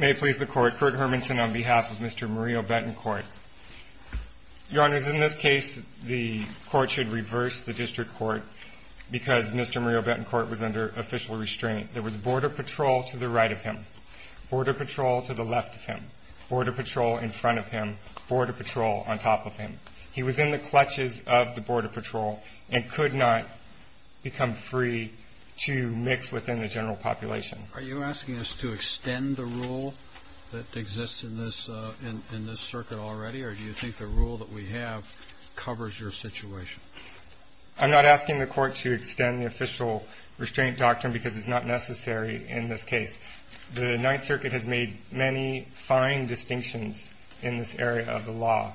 May it please the Court, Kurt Hermanson on behalf of Mr. Murillo-Betancourt. Your Honors, in this case, the Court should reverse the District Court because Mr. Murillo-Betancourt was under official restraint. There was border patrol to the right of him, border patrol to the left of him, border patrol in front of him, border patrol on top of him. He was in the clutches of the border patrol and could not become free to mix within the general population. Are you asking us to extend the rule that exists in this circuit already, or do you think the rule that we have covers your situation? I'm not asking the Court to extend the official restraint doctrine because it's not necessary in this case. The Ninth Circuit has made many fine distinctions in this area of the law,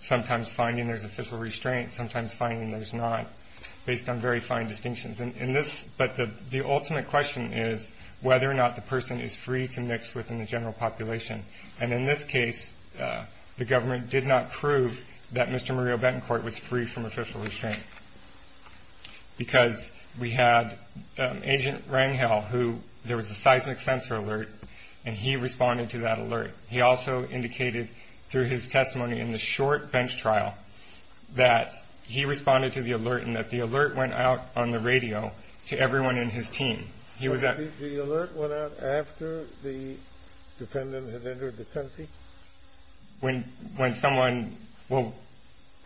sometimes finding there's official restraint, sometimes finding there's not, based on very fine distinctions. But the ultimate question is whether or not the person is free to mix within the general population. And in this case, the government did not prove that Mr. Murillo-Betancourt was free from official restraint because we had Agent Rangel, who there was a seismic sensor alert, and he responded to that alert. He also indicated through his testimony in the short bench trial that he responded to the alert and that the alert went out on the radio to everyone in his team. The alert went out after the defendant had entered the country? When someone, well,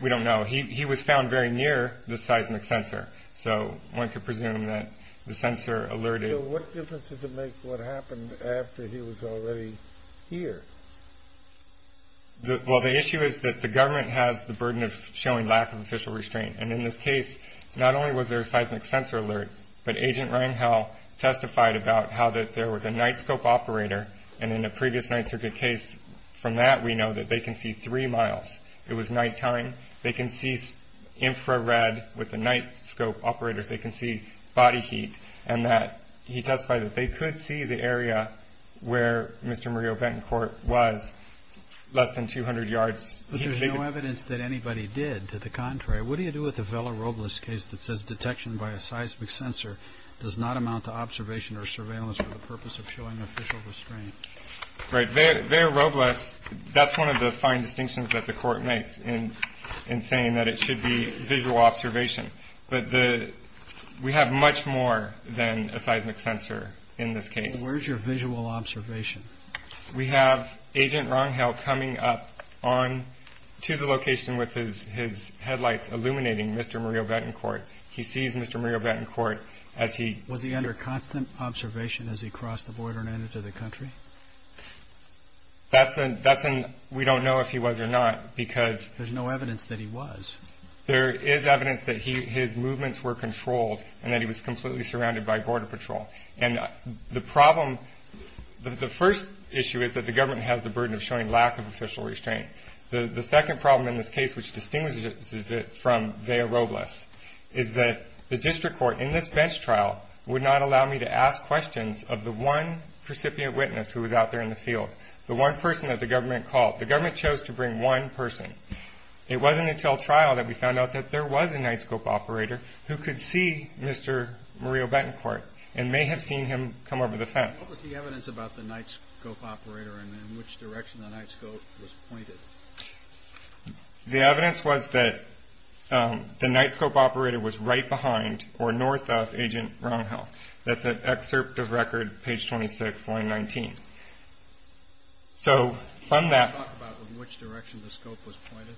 we don't know. He was found very near the seismic sensor, so one could presume that the sensor alerted. So what difference does it make what happened after he was already here? Well, the issue is that the government has the burden of showing lack of official restraint, and in this case, not only was there a seismic sensor alert, but Agent Rangel testified about how there was a night scope operator, and in a previous Ninth Circuit case from that we know that they can see three miles. It was nighttime. They can see infrared with the night scope operators. They can see body heat. And he testified that they could see the area where Mr. Murillo-Betancourt was less than 200 yards. But there's no evidence that anybody did. To the contrary, what do you do with a Vela Robles case that says detection by a seismic sensor does not amount to observation or surveillance for the purpose of showing official restraint? Right. Vela Robles, that's one of the fine distinctions that the court makes in saying that it should be visual observation. But we have much more than a seismic sensor in this case. Where's your visual observation? We have Agent Rangel coming up on to the location with his headlights illuminating Mr. Murillo-Betancourt. He sees Mr. Murillo-Betancourt as he- Was he under constant observation as he crossed the border and entered the country? That's an we don't know if he was or not because- There's no evidence that he was. There is evidence that his movements were controlled and that he was completely surrounded by border patrol. And the problem- The first issue is that the government has the burden of showing lack of official restraint. The second problem in this case, which distinguishes it from Vela Robles, is that the district court in this bench trial would not allow me to ask questions of the one precipient witness who was out there in the field, the one person that the government called. The government chose to bring one person. It wasn't until trial that we found out that there was a night scope operator who could see Mr. Murillo-Betancourt and may have seen him come over the fence. What was the evidence about the night scope operator and in which direction the night scope was pointed? The evidence was that the night scope operator was right behind or north of Agent Rangel. That's an excerpt of record, page 26, line 19. So from that- Can you talk about in which direction the scope was pointed?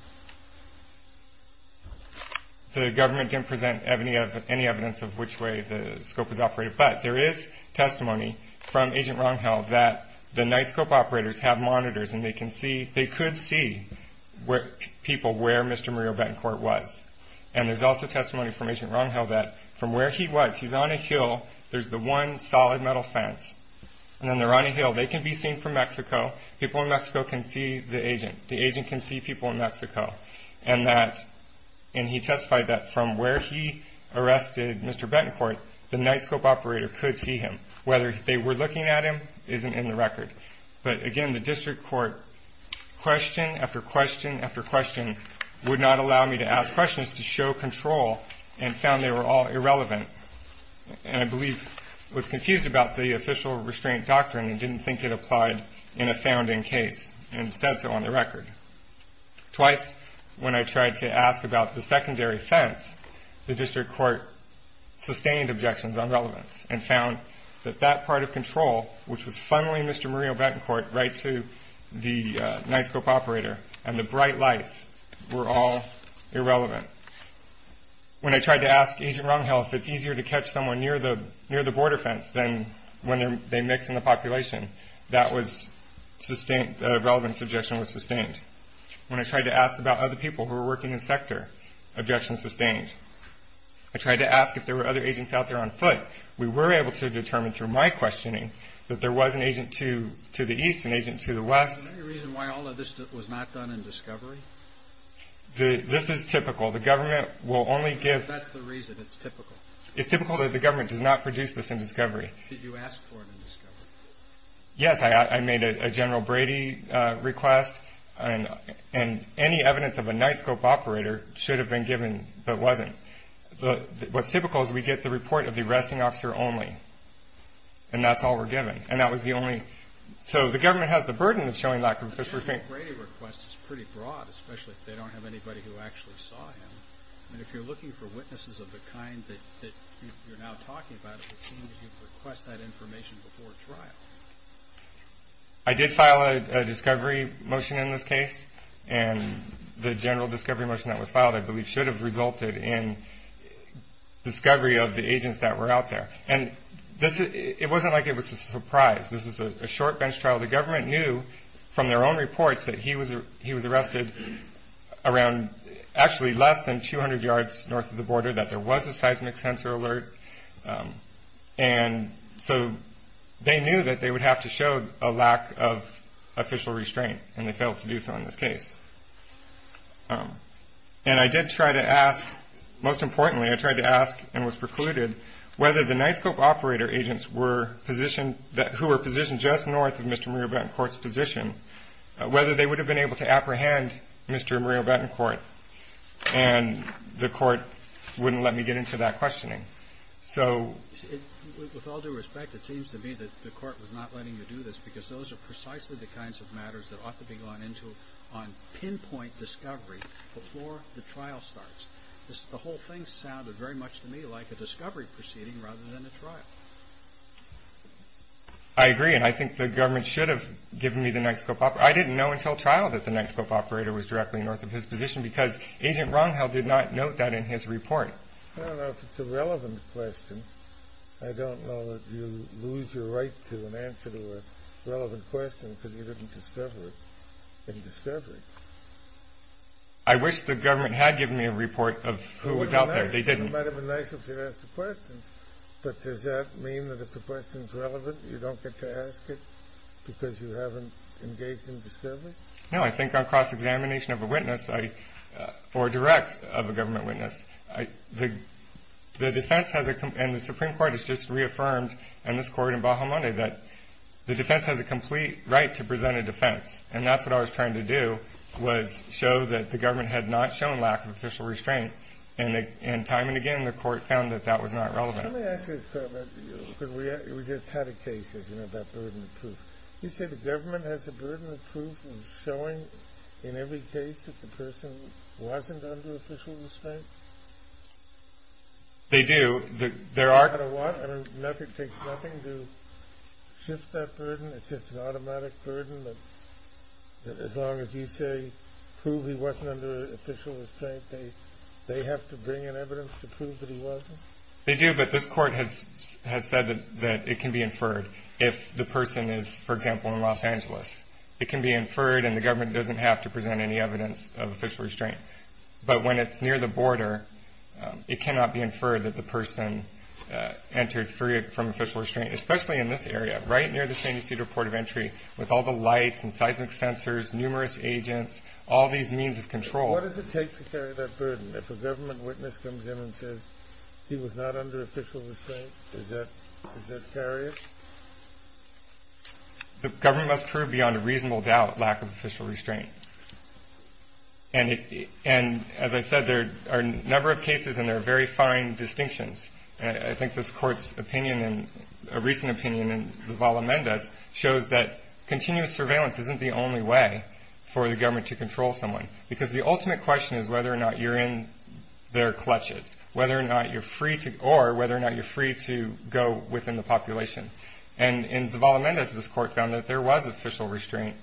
The government didn't present any evidence of which way the scope was operated, but there is testimony from Agent Rangel that the night scope operators have monitors and they could see people where Mr. Murillo-Betancourt was. And there's also testimony from Agent Rangel that from where he was, he's on a hill, there's the one solid metal fence, and then they're on a hill. They can be seen from Mexico. People in Mexico can see the agent. The agent can see people in Mexico. And he testified that from where he arrested Mr. Betancourt, the night scope operator could see him. Whether they were looking at him isn't in the record. But again, the district court question after question after question would not allow me to ask questions to show control and found they were all irrelevant. And I believe was confused about the official restraint doctrine and didn't think it applied in a founding case and said so on the record. Twice when I tried to ask about the secondary fence, the district court sustained objections on relevance and found that that part of control, which was funneling Mr. Murillo-Betancourt right to the night scope operator and the bright lights, were all irrelevant. When I tried to ask Agent Rangel if it's easier to catch someone near the border fence than when they mix in the population, that relevance objection was sustained. When I tried to ask about other people who were working in sector, objections sustained. I tried to ask if there were other agents out there on foot. We were able to determine through my questioning that there was an agent to the east, an agent to the west. Is there any reason why all of this was not done in discovery? This is typical. The government will only give. That's the reason. It's typical. It's typical that the government does not produce this in discovery. Did you ask for it in discovery? Yes. I made a General Brady request, and any evidence of a night scope operator should have been given but wasn't. What's typical is we get the report of the arresting officer only, and that's all we're given, and that was the only. So the government has the burden of showing that. The General Brady request is pretty broad, especially if they don't have anybody who actually saw him. If you're looking for witnesses of the kind that you're now talking about, it would seem that you'd request that information before trial. I did file a discovery motion in this case, and the general discovery motion that was filed, I believe, should have resulted in discovery of the agents that were out there. It wasn't like it was a surprise. This was a short bench trial. The government knew from their own reports that he was arrested around actually less than 200 yards north of the border, that there was a seismic sensor alert, and so they knew that they would have to show a lack of official restraint, and they failed to do so in this case. And I did try to ask, most importantly, I tried to ask and was precluded whether the night scope operator agents they would have been able to apprehend Mr. and Maria Bettencourt, and the court wouldn't let me get into that questioning. With all due respect, it seems to me that the court was not letting you do this because those are precisely the kinds of matters that ought to be gone into on pinpoint discovery before the trial starts. The whole thing sounded very much to me like a discovery proceeding rather than a trial. I agree, and I think the government should have given me the night scope operator. I didn't know until trial that the night scope operator was directly north of his position because Agent Runghill did not note that in his report. I don't know if it's a relevant question. I don't know that you lose your right to an answer to a relevant question because you didn't discover it in discovery. I wish the government had given me a report of who was out there. It might have been nice if they had asked the questions, but does that mean that if the question is relevant you don't get to ask it because you haven't engaged in discovery? No, I think on cross-examination of a witness or direct of a government witness, the defense has a complete right to present a defense, and that's what I was trying to do, was show that the government had not shown lack of official restraint, and time and again the court found that that was not relevant. Let me ask you this, Carl. We just had a case, as you know, about burden of proof. You say the government has a burden of proof of showing in every case that the person wasn't under official restraint? They do. No matter what, it takes nothing to shift that burden. It's just an automatic burden that as long as you say, they have to bring in evidence to prove that he wasn't? They do, but this court has said that it can be inferred if the person is, for example, in Los Angeles. It can be inferred, and the government doesn't have to present any evidence of official restraint. But when it's near the border, it cannot be inferred that the person entered free from official restraint, especially in this area right near the San Ysidro Port of Entry with all the lights and seismic sensors, numerous agents, all these means of control. What does it take to carry that burden? If a government witness comes in and says, he was not under official restraint, does that carry it? The government must prove beyond a reasonable doubt lack of official restraint. And as I said, there are a number of cases, and there are very fine distinctions. I think this court's opinion, and a recent opinion in Zavala Mendez, shows that continuous surveillance isn't the only way for the government to control someone. Because the ultimate question is whether or not you're in their clutches, or whether or not you're free to go within the population. And in Zavala Mendez, this court found that there was official restraint,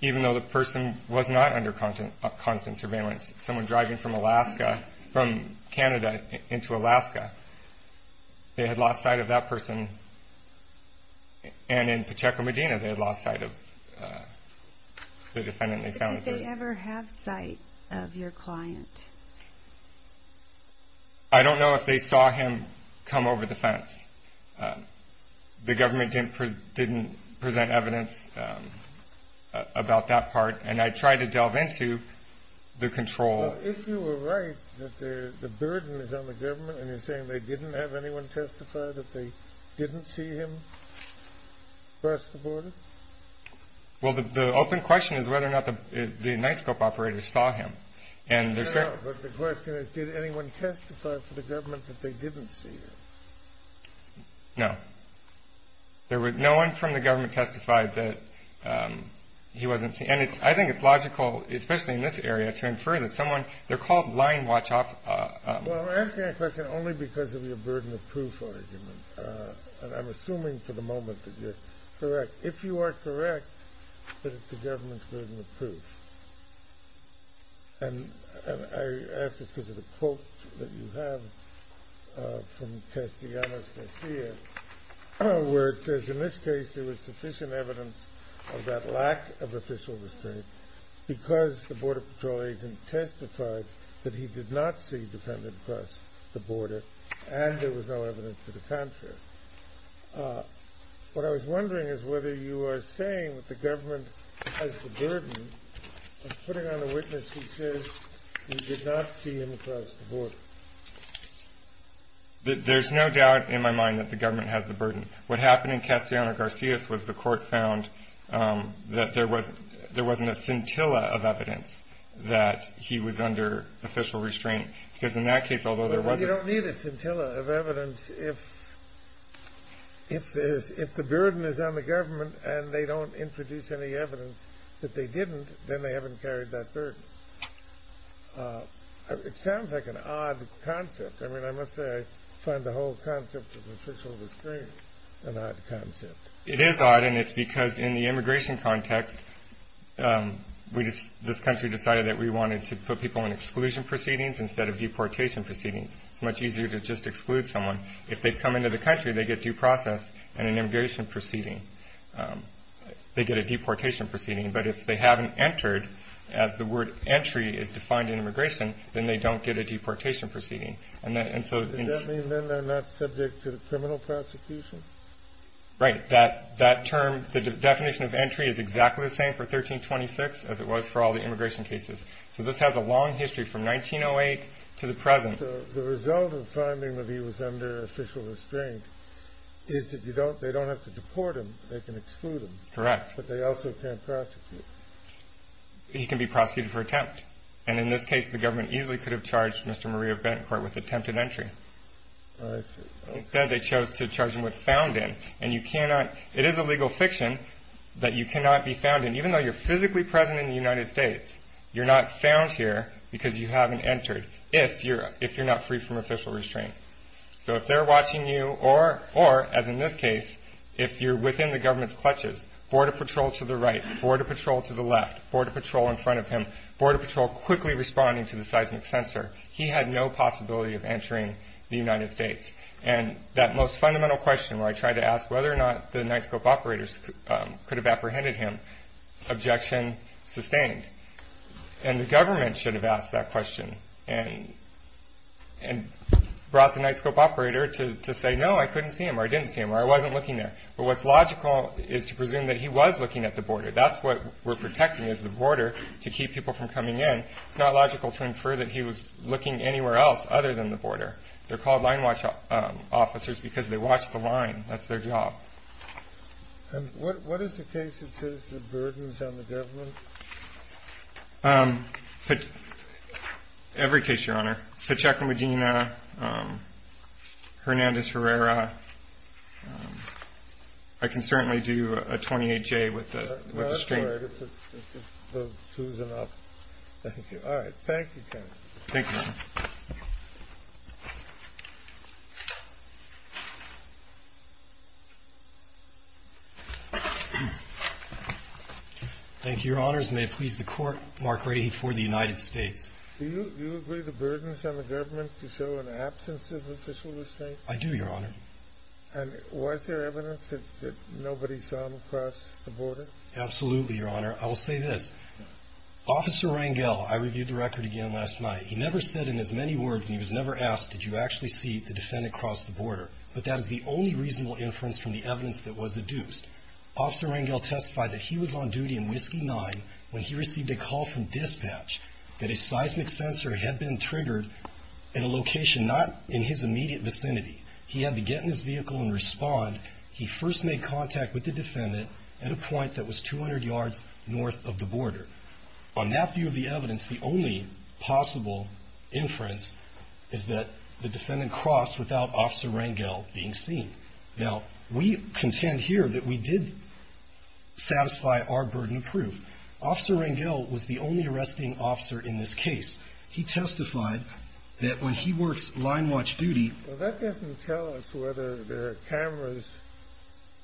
even though the person was not under constant surveillance. Someone driving from Alaska, from Canada into Alaska, they had lost sight of that person. And in Pacheco Medina, they had lost sight of the defendant. Did they ever have sight of your client? I don't know if they saw him come over the fence. The government didn't present evidence about that part, and I tried to delve into the control. If you were right, that the burden is on the government, and you're saying they didn't have anyone testify that they didn't see him cross the border? Well, the open question is whether or not the NISCOP operators saw him. No, but the question is, did anyone testify for the government that they didn't see him? No. No one from the government testified that he wasn't seen. And I think it's logical, especially in this area, to infer that someone, they're called line watch. Well, I'm asking that question only because of your burden of proof argument. And I'm assuming for the moment that you're correct. If you are correct, then it's the government's burden of proof. And I ask this because of the quote that you have from Castellanos Garcia, where it says, in this case there was sufficient evidence of that lack of official restraint because the Border Patrol agent testified that he did not see the defendant cross the border, and there was no evidence to the contrary. What I was wondering is whether you are saying that the government has the burden of putting on a witness who says he did not see him cross the border. There's no doubt in my mind that the government has the burden. What happened in Castellanos Garcia was the court found that there wasn't a scintilla of evidence that he was under official restraint. Because in that case, although there was a- You don't need a scintilla of evidence if the burden is on the government and they don't introduce any evidence that they didn't, then they haven't carried that burden. It sounds like an odd concept. I mean, I must say I find the whole concept of official restraint an odd concept. It is odd, and it's because in the immigration context, this country decided that we wanted to put people in exclusion proceedings instead of deportation proceedings. It's much easier to just exclude someone. If they come into the country, they get due process and an immigration proceeding. They get a deportation proceeding. But if they haven't entered, as the word entry is defined in immigration, then they don't get a deportation proceeding. Does that mean then they're not subject to the criminal prosecution? Right. That term, the definition of entry is exactly the same for 1326 as it was for all the immigration cases. So this has a long history from 1908 to the present. So the result of finding that he was under official restraint is that they don't have to deport him. They can exclude him. Correct. But they also can't prosecute. He can be prosecuted for attempt. And in this case, the government easily could have charged Mr. Maria Bancourt with attempted entry. I see. Instead, they chose to charge him with found in. And it is a legal fiction that you cannot be found in. Even though you're physically present in the United States, you're not found here because you haven't entered if you're not free from official restraint. So if they're watching you or, as in this case, if you're within the government's clutches, border patrol to the right, border patrol to the left, border patrol in front of him, border patrol quickly responding to the seismic sensor, he had no possibility of entering the United States. And that most fundamental question, where I tried to ask whether or not the NITESCOPE operators could have apprehended him, objection sustained. And the government should have asked that question and brought the NITESCOPE operator to say, no, I couldn't see him or I didn't see him or I wasn't looking there. But what's logical is to presume that he was looking at the border. That's what we're protecting is the border to keep people from coming in. It's not logical to infer that he was looking anywhere else other than the border. They're called line watch officers because they watch the line. That's their job. And what is the case that says the burden is on the government? Every case, Your Honor. Pacheco Medina, Hernandez Herrera. I can certainly do a 28J with the street. All right. Thank you, counsel. Thank you. Thank you. Thank you, Your Honors. May it please the Court, Mark Rady for the United States. Do you agree the burden is on the government to show an absence of official restraint? I do, Your Honor. And was there evidence that nobody saw him across the border? Absolutely, Your Honor. I will say this. Officer Rangel, I reviewed the record again last night. He never said in as many words, and he was never asked, did you actually see the defendant cross the border? But that is the only reasonable inference from the evidence that was adduced. Officer Rangel testified that he was on duty in Whiskey 9 when he received a call from dispatch that a seismic sensor had been triggered in a location not in his immediate vicinity. He had to get in his vehicle and respond. He first made contact with the defendant at a point that was 200 yards north of the border. On that view of the evidence, the only possible inference is that the defendant crossed without Officer Rangel being seen. Now, we contend here that we did satisfy our burden of proof. Officer Rangel was the only arresting officer in this case. He testified that when he works line watch duty. Well, that doesn't tell us whether there are cameras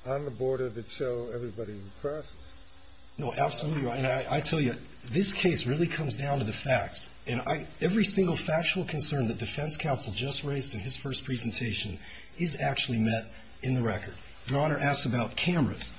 on the border that show everybody crossed. No, absolutely, Your Honor. I tell you, this case really comes down to the facts. And every single factual concern that defense counsel just raised in his first presentation is actually met in the record. Your Honor asks about cameras.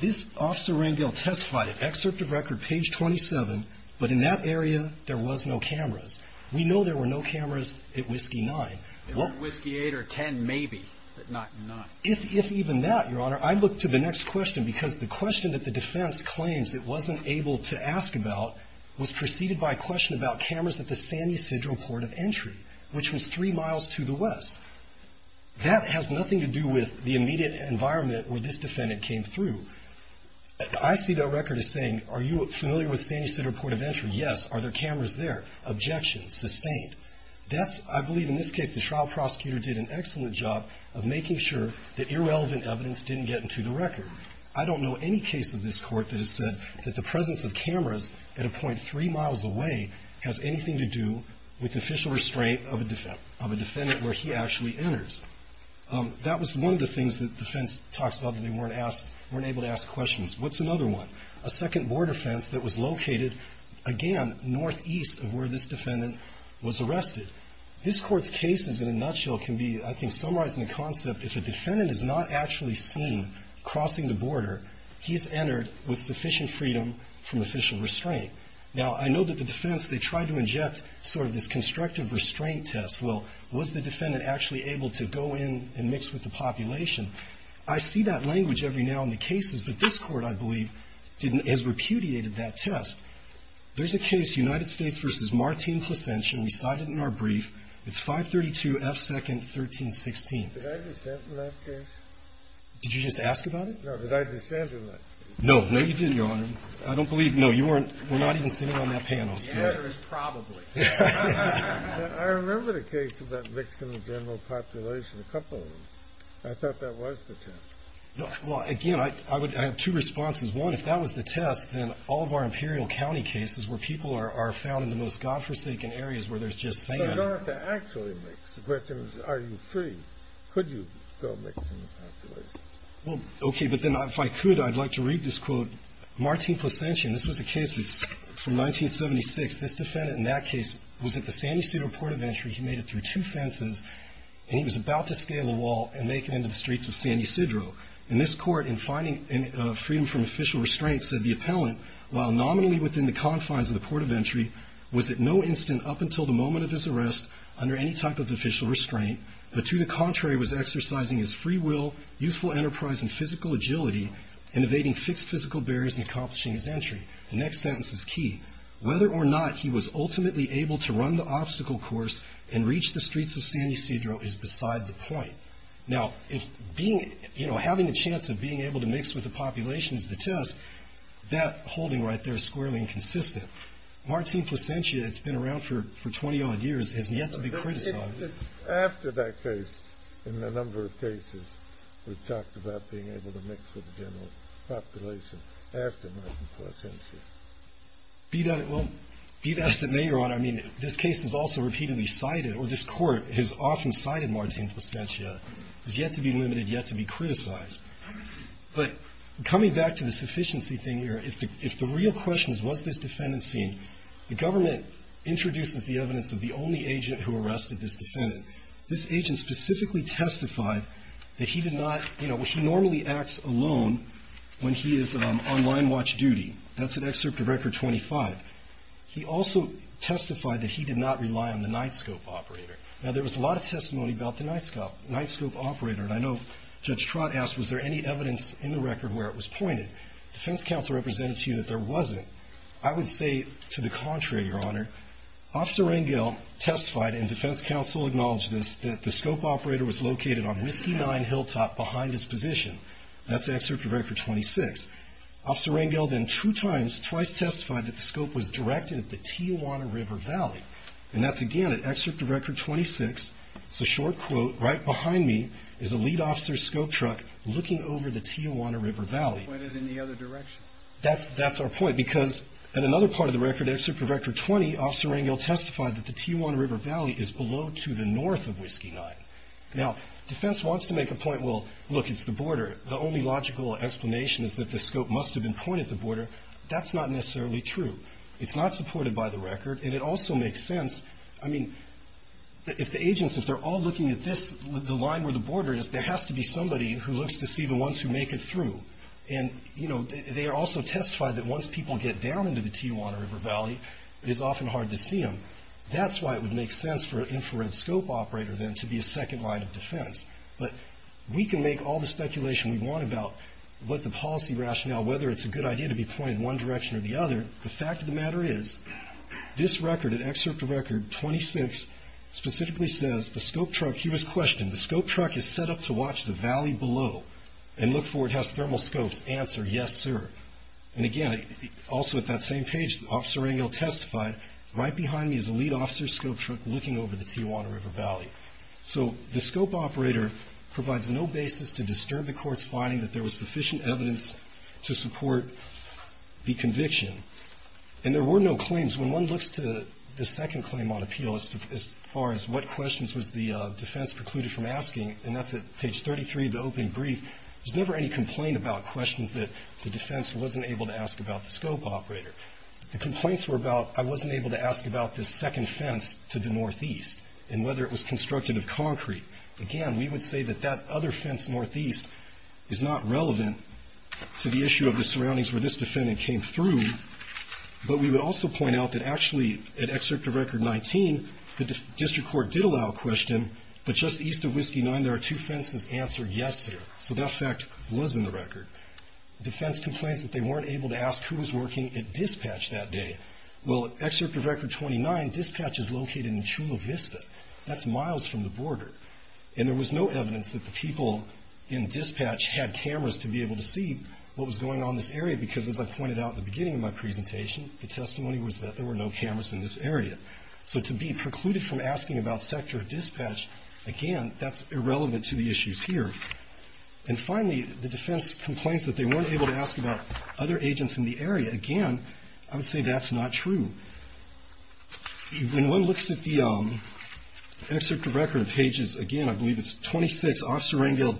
This Officer Rangel testified, excerpt of record, page 27, but in that area there was no cameras. We know there were no cameras at Whiskey 9. There were Whiskey 8 or 10 maybe, but not 9. If even that, Your Honor, I look to the next question because the question that the defense claims it wasn't able to ask about was preceded by a question about cameras at the San Ysidro Port of Entry, which was three miles to the west. That has nothing to do with the immediate environment where this defendant came through. I see that record as saying, are you familiar with San Ysidro Port of Entry? Yes. Are there cameras there? Objection. Sustained. I believe in this case the trial prosecutor did an excellent job of making sure that irrelevant evidence didn't get into the record. I don't know any case of this court that has said that the presence of cameras at a point three miles away has anything to do with the official restraint of a defendant where he actually enters. That was one of the things that the defense talks about that they weren't able to ask questions. What's another one? A second border fence that was located, again, northeast of where this defendant was arrested. This court's cases in a nutshell can be, I think, summarized in the concept if a defendant is not actually seen crossing the border, he's entered with sufficient freedom from official restraint. Now, I know that the defense, they tried to inject sort of this constructive restraint test. Well, was the defendant actually able to go in and mix with the population? I see that language every now in the cases, but this court, I believe, has repudiated that test. There's a case, United States v. Martin Placentian. We cite it in our brief. It's 532 F. 2nd, 1316. Did I descend in that case? Did you just ask about it? No. Did I descend in that case? No. No, you didn't, Your Honor. I don't believe, no, you weren't. We're not even sitting on that panel. The answer is probably. I remember the case about mixing the general population, a couple of them. I thought that was the test. Well, again, I have two responses. One, if that was the test, then all of our Imperial County cases where people are found in the most godforsaken areas where there's just sand. You don't have to actually mix. The question is, are you free? Could you go mix in the population? Well, okay, but then if I could, I'd like to read this quote. Martin Placentian. This was a case that's from 1976. This defendant in that case was at the San Ysidro Port of Entry. He made it through two fences, and he was about to scale a wall and make it into the streets of San Ysidro. In this court, in finding freedom from official restraints, said the appellant, while nominally within the confines of the Port of Entry, was at no instant up until the moment of his arrest under any type of official restraint, but to the contrary was exercising his free will, youthful enterprise, and physical agility, and evading fixed physical barriers in accomplishing his entry. The next sentence is key. Whether or not he was ultimately able to run the obstacle course and reach the streets of San Ysidro is beside the point. Now, having a chance of being able to mix with the population is the test. That holding right there is squarely inconsistent. Martin Placentia, it's been around for 20 odd years, hasn't yet to be criticized. After that case, in a number of cases, we've talked about being able to mix with the general population after Martin Placentia. Be that as it may, Your Honor, I mean, this case is also repeatedly cited, or this court has often cited Martin Placentia, is yet to be limited, yet to be criticized. But coming back to the sufficiency thing here, if the real question is what's this defendant seen, the government introduces the evidence of the only agent who arrested this defendant. This agent specifically testified that he did not, you know, he normally acts alone when he is on line watch duty. That's in Excerpt of Record 25. He also testified that he did not rely on the night scope operator. Now, there was a lot of testimony about the night scope operator, and I know Judge Trott asked, was there any evidence in the record where it was pointed? Defense counsel represented to you that there wasn't. I would say to the contrary, Your Honor. Officer Rangel testified, and defense counsel acknowledged this, that the scope operator was located on Whiskey Nine Hilltop behind his position. That's Excerpt of Record 26. Officer Rangel then two times, twice testified that the scope was directed at the Tijuana River Valley. And that's again at Excerpt of Record 26. It's a short quote, right behind me is a lead officer's scope truck looking over the Tijuana River Valley. That's pointed in the other direction. That's our point, because in another part of the record, Excerpt of Record 20, Officer Rangel testified that the Tijuana River Valley is below to the north of Whiskey Nine. Now, defense wants to make a point, well, look, it's the border. The only logical explanation is that the scope must have been pointed at the border. That's not necessarily true. It's not supported by the record, and it also makes sense. I mean, if the agents, if they're all looking at this, the line where the border is, there has to be somebody who looks to see the ones who make it through. And, you know, they also testified that once people get down into the Tijuana River Valley, it is often hard to see them. That's why it would make sense for an infrared scope operator, then, to be a second line of defense. But we can make all the speculation we want about what the policy rationale, whether it's a good idea to be pointed in one direction or the other. The fact of the matter is, this record, Excerpt of Record 26, specifically says the scope truck, here is the question, the scope truck is set up to watch the valley below and look for it. It has thermal scopes. Answer, yes, sir. And, again, also at that same page, Officer Rangel testified, right behind me is the lead officer's scope truck looking over the Tijuana River Valley. So the scope operator provides no basis to disturb the Court's finding that there was sufficient evidence to support the conviction. And there were no claims. When one looks to the second claim on appeal as far as what questions was the defense precluded from asking, and that's at page 33 of the opening brief, there's never any complaint about questions that the defense wasn't able to ask about the scope operator. The complaints were about I wasn't able to ask about this second fence to the northeast and whether it was constructed of concrete. Again, we would say that that other fence northeast is not relevant to the issue of the surroundings where this defendant came through. But we would also point out that, actually, at Excerpt of Record 19, the district court did allow a question, but just east of Whiskey 9, there are two fences. Answer, yes, sir. So that fact was in the record. Defense complains that they weren't able to ask who was working at dispatch that day. Well, at Excerpt of Record 29, dispatch is located in Chula Vista. That's miles from the border. And there was no evidence that the people in dispatch had cameras to be able to see what was going on in this area because, as I pointed out at the beginning of my presentation, the testimony was that there were no cameras in this area. So to be precluded from asking about sector dispatch, again, that's irrelevant to the issues here. And finally, the defense complains that they weren't able to ask about other agents in the area. Again, I would say that's not true. When one looks at the Excerpt of Record pages, again, I believe it's 26, Officer Rangel,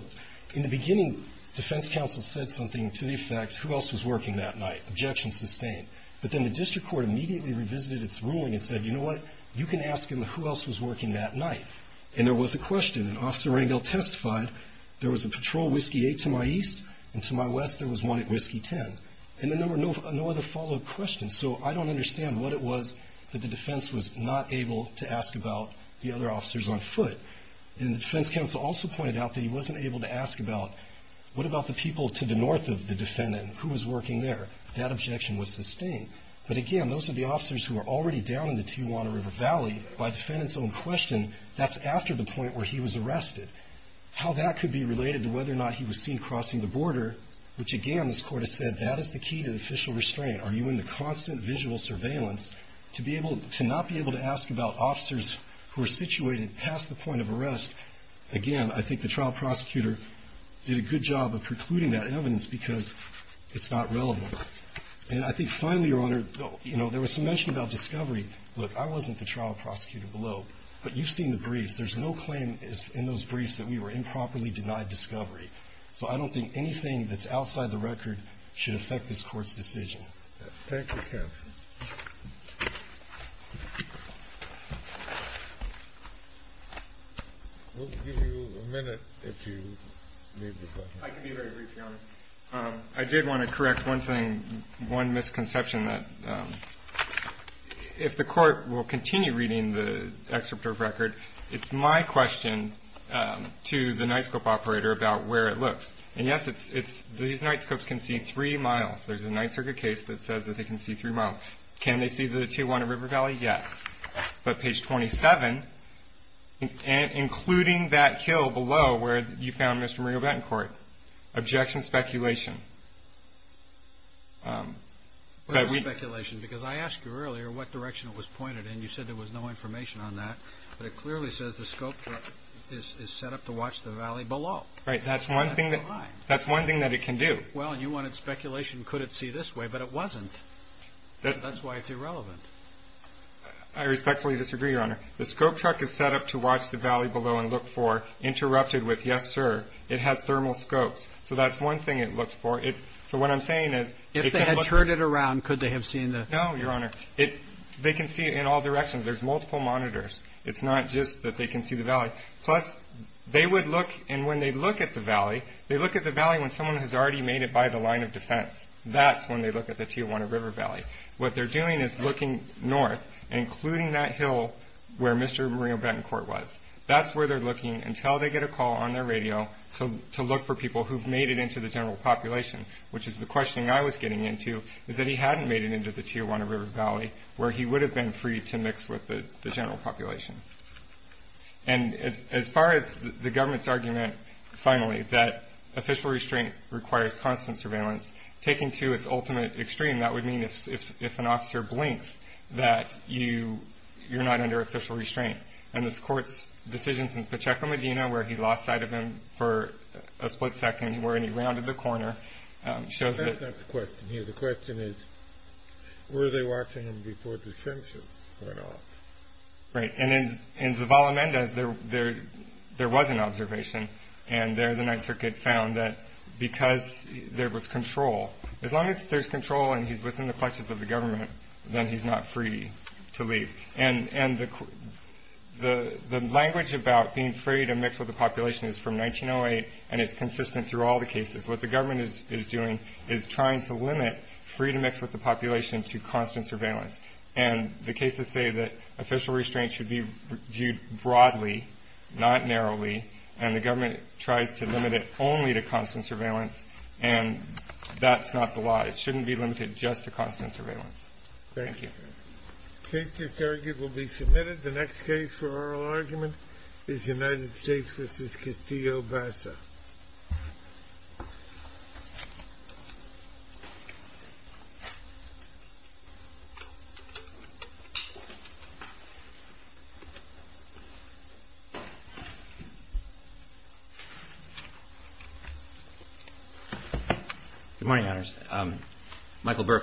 in the beginning, defense counsel said something to the effect, who else was working that night? Objection sustained. But then the district court immediately revisited its ruling and said, you know what, you can ask them who else was working that night. And there was a question. And Officer Rangel testified, there was a patrol Whiskey 8 to my east, and to my west, there was one at Whiskey 10. And then there were no other follow-up questions. So I don't understand what it was that the defense was not able to ask about the other officers on foot. And the defense counsel also pointed out that he wasn't able to ask about, what about the people to the north of the defendant, who was working there? That objection was sustained. But again, those are the officers who are already down in the Tijuana River Valley. By the defendant's own question, that's after the point where he was arrested. How that could be related to whether or not he was seen crossing the border, which again, this Court has said, that is the key to official restraint. Are you in the constant visual surveillance to be able to not be able to ask about officers who are situated past the point of arrest? Again, I think the trial prosecutor did a good job of precluding that evidence because it's not relevant. And I think finally, Your Honor, you know, there was some mention about discovery. Look, I wasn't the trial prosecutor below. But you've seen the briefs. There's no claim in those briefs that we were improperly denied discovery. So I don't think anything that's outside the record should affect this Court's decision. Thank you, counsel. We'll give you a minute if you need the question. I can be very brief, Your Honor. I did want to correct one thing, one misconception that if the Court will continue reading the excerpt of record, it's my question to the night scope operator about where it looks. And yes, these night scopes can see three miles. There's a night circuit case that says that they can see three miles. Can they see the 2-1 in River Valley? Yes. But page 27, including that hill below where you found Mr. Mario Betancourt, objection, speculation. Speculation, because I asked you earlier what direction it was pointed in. You said there was no information on that. But it clearly says the scope truck is set up to watch the valley below. Right. That's one thing that it can do. Well, and you wanted speculation. Could it see this way? But it wasn't. That's why it's irrelevant. I respectfully disagree, Your Honor. The scope truck is set up to watch the valley below and look for, interrupted with, yes, sir, it has thermal scopes. So that's one thing it looks for. So what I'm saying is it can look. If they had turned it around, could they have seen the. No, Your Honor. They can see it in all directions. There's multiple monitors. It's not just that they can see the valley. Plus, they would look, and when they look at the valley, they look at the valley when someone has already made it by the line of defense. That's when they look at the Tijuana River Valley. What they're doing is looking north, including that hill where Mr. Mario Betancourt was. That's where they're looking until they get a call on their radio to look for people who've made it into the general population, which is the question I was getting into, is that he hadn't made it into the Tijuana River Valley where he would have been free to mix with the general population. And as far as the government's argument, finally, that official restraint requires constant surveillance, taken to its ultimate extreme, that would mean if an officer blinks that you're not under official restraint. And this court's decision in Pacheco Medina, where he lost sight of him for a split second, where he rounded the corner, shows that. That's not the question here. The question is, were they watching him before the censure went off? Right. And in Zavala Mendez, there was an observation. And there the Ninth Circuit found that because there was control, as long as there's control and he's within the clutches of the government, then he's not free to leave. And the language about being free to mix with the population is from 1908, and it's consistent through all the cases. What the government is doing is trying to limit free to mix with the population to constant surveillance. And the cases say that official restraint should be viewed broadly, not narrowly, and the government tries to limit it only to constant surveillance, and that's not the law. It shouldn't be limited just to constant surveillance. Thank you. The case just argued will be submitted. The next case for oral argument is United States v. Castillo-Bassa. Good morning, honors.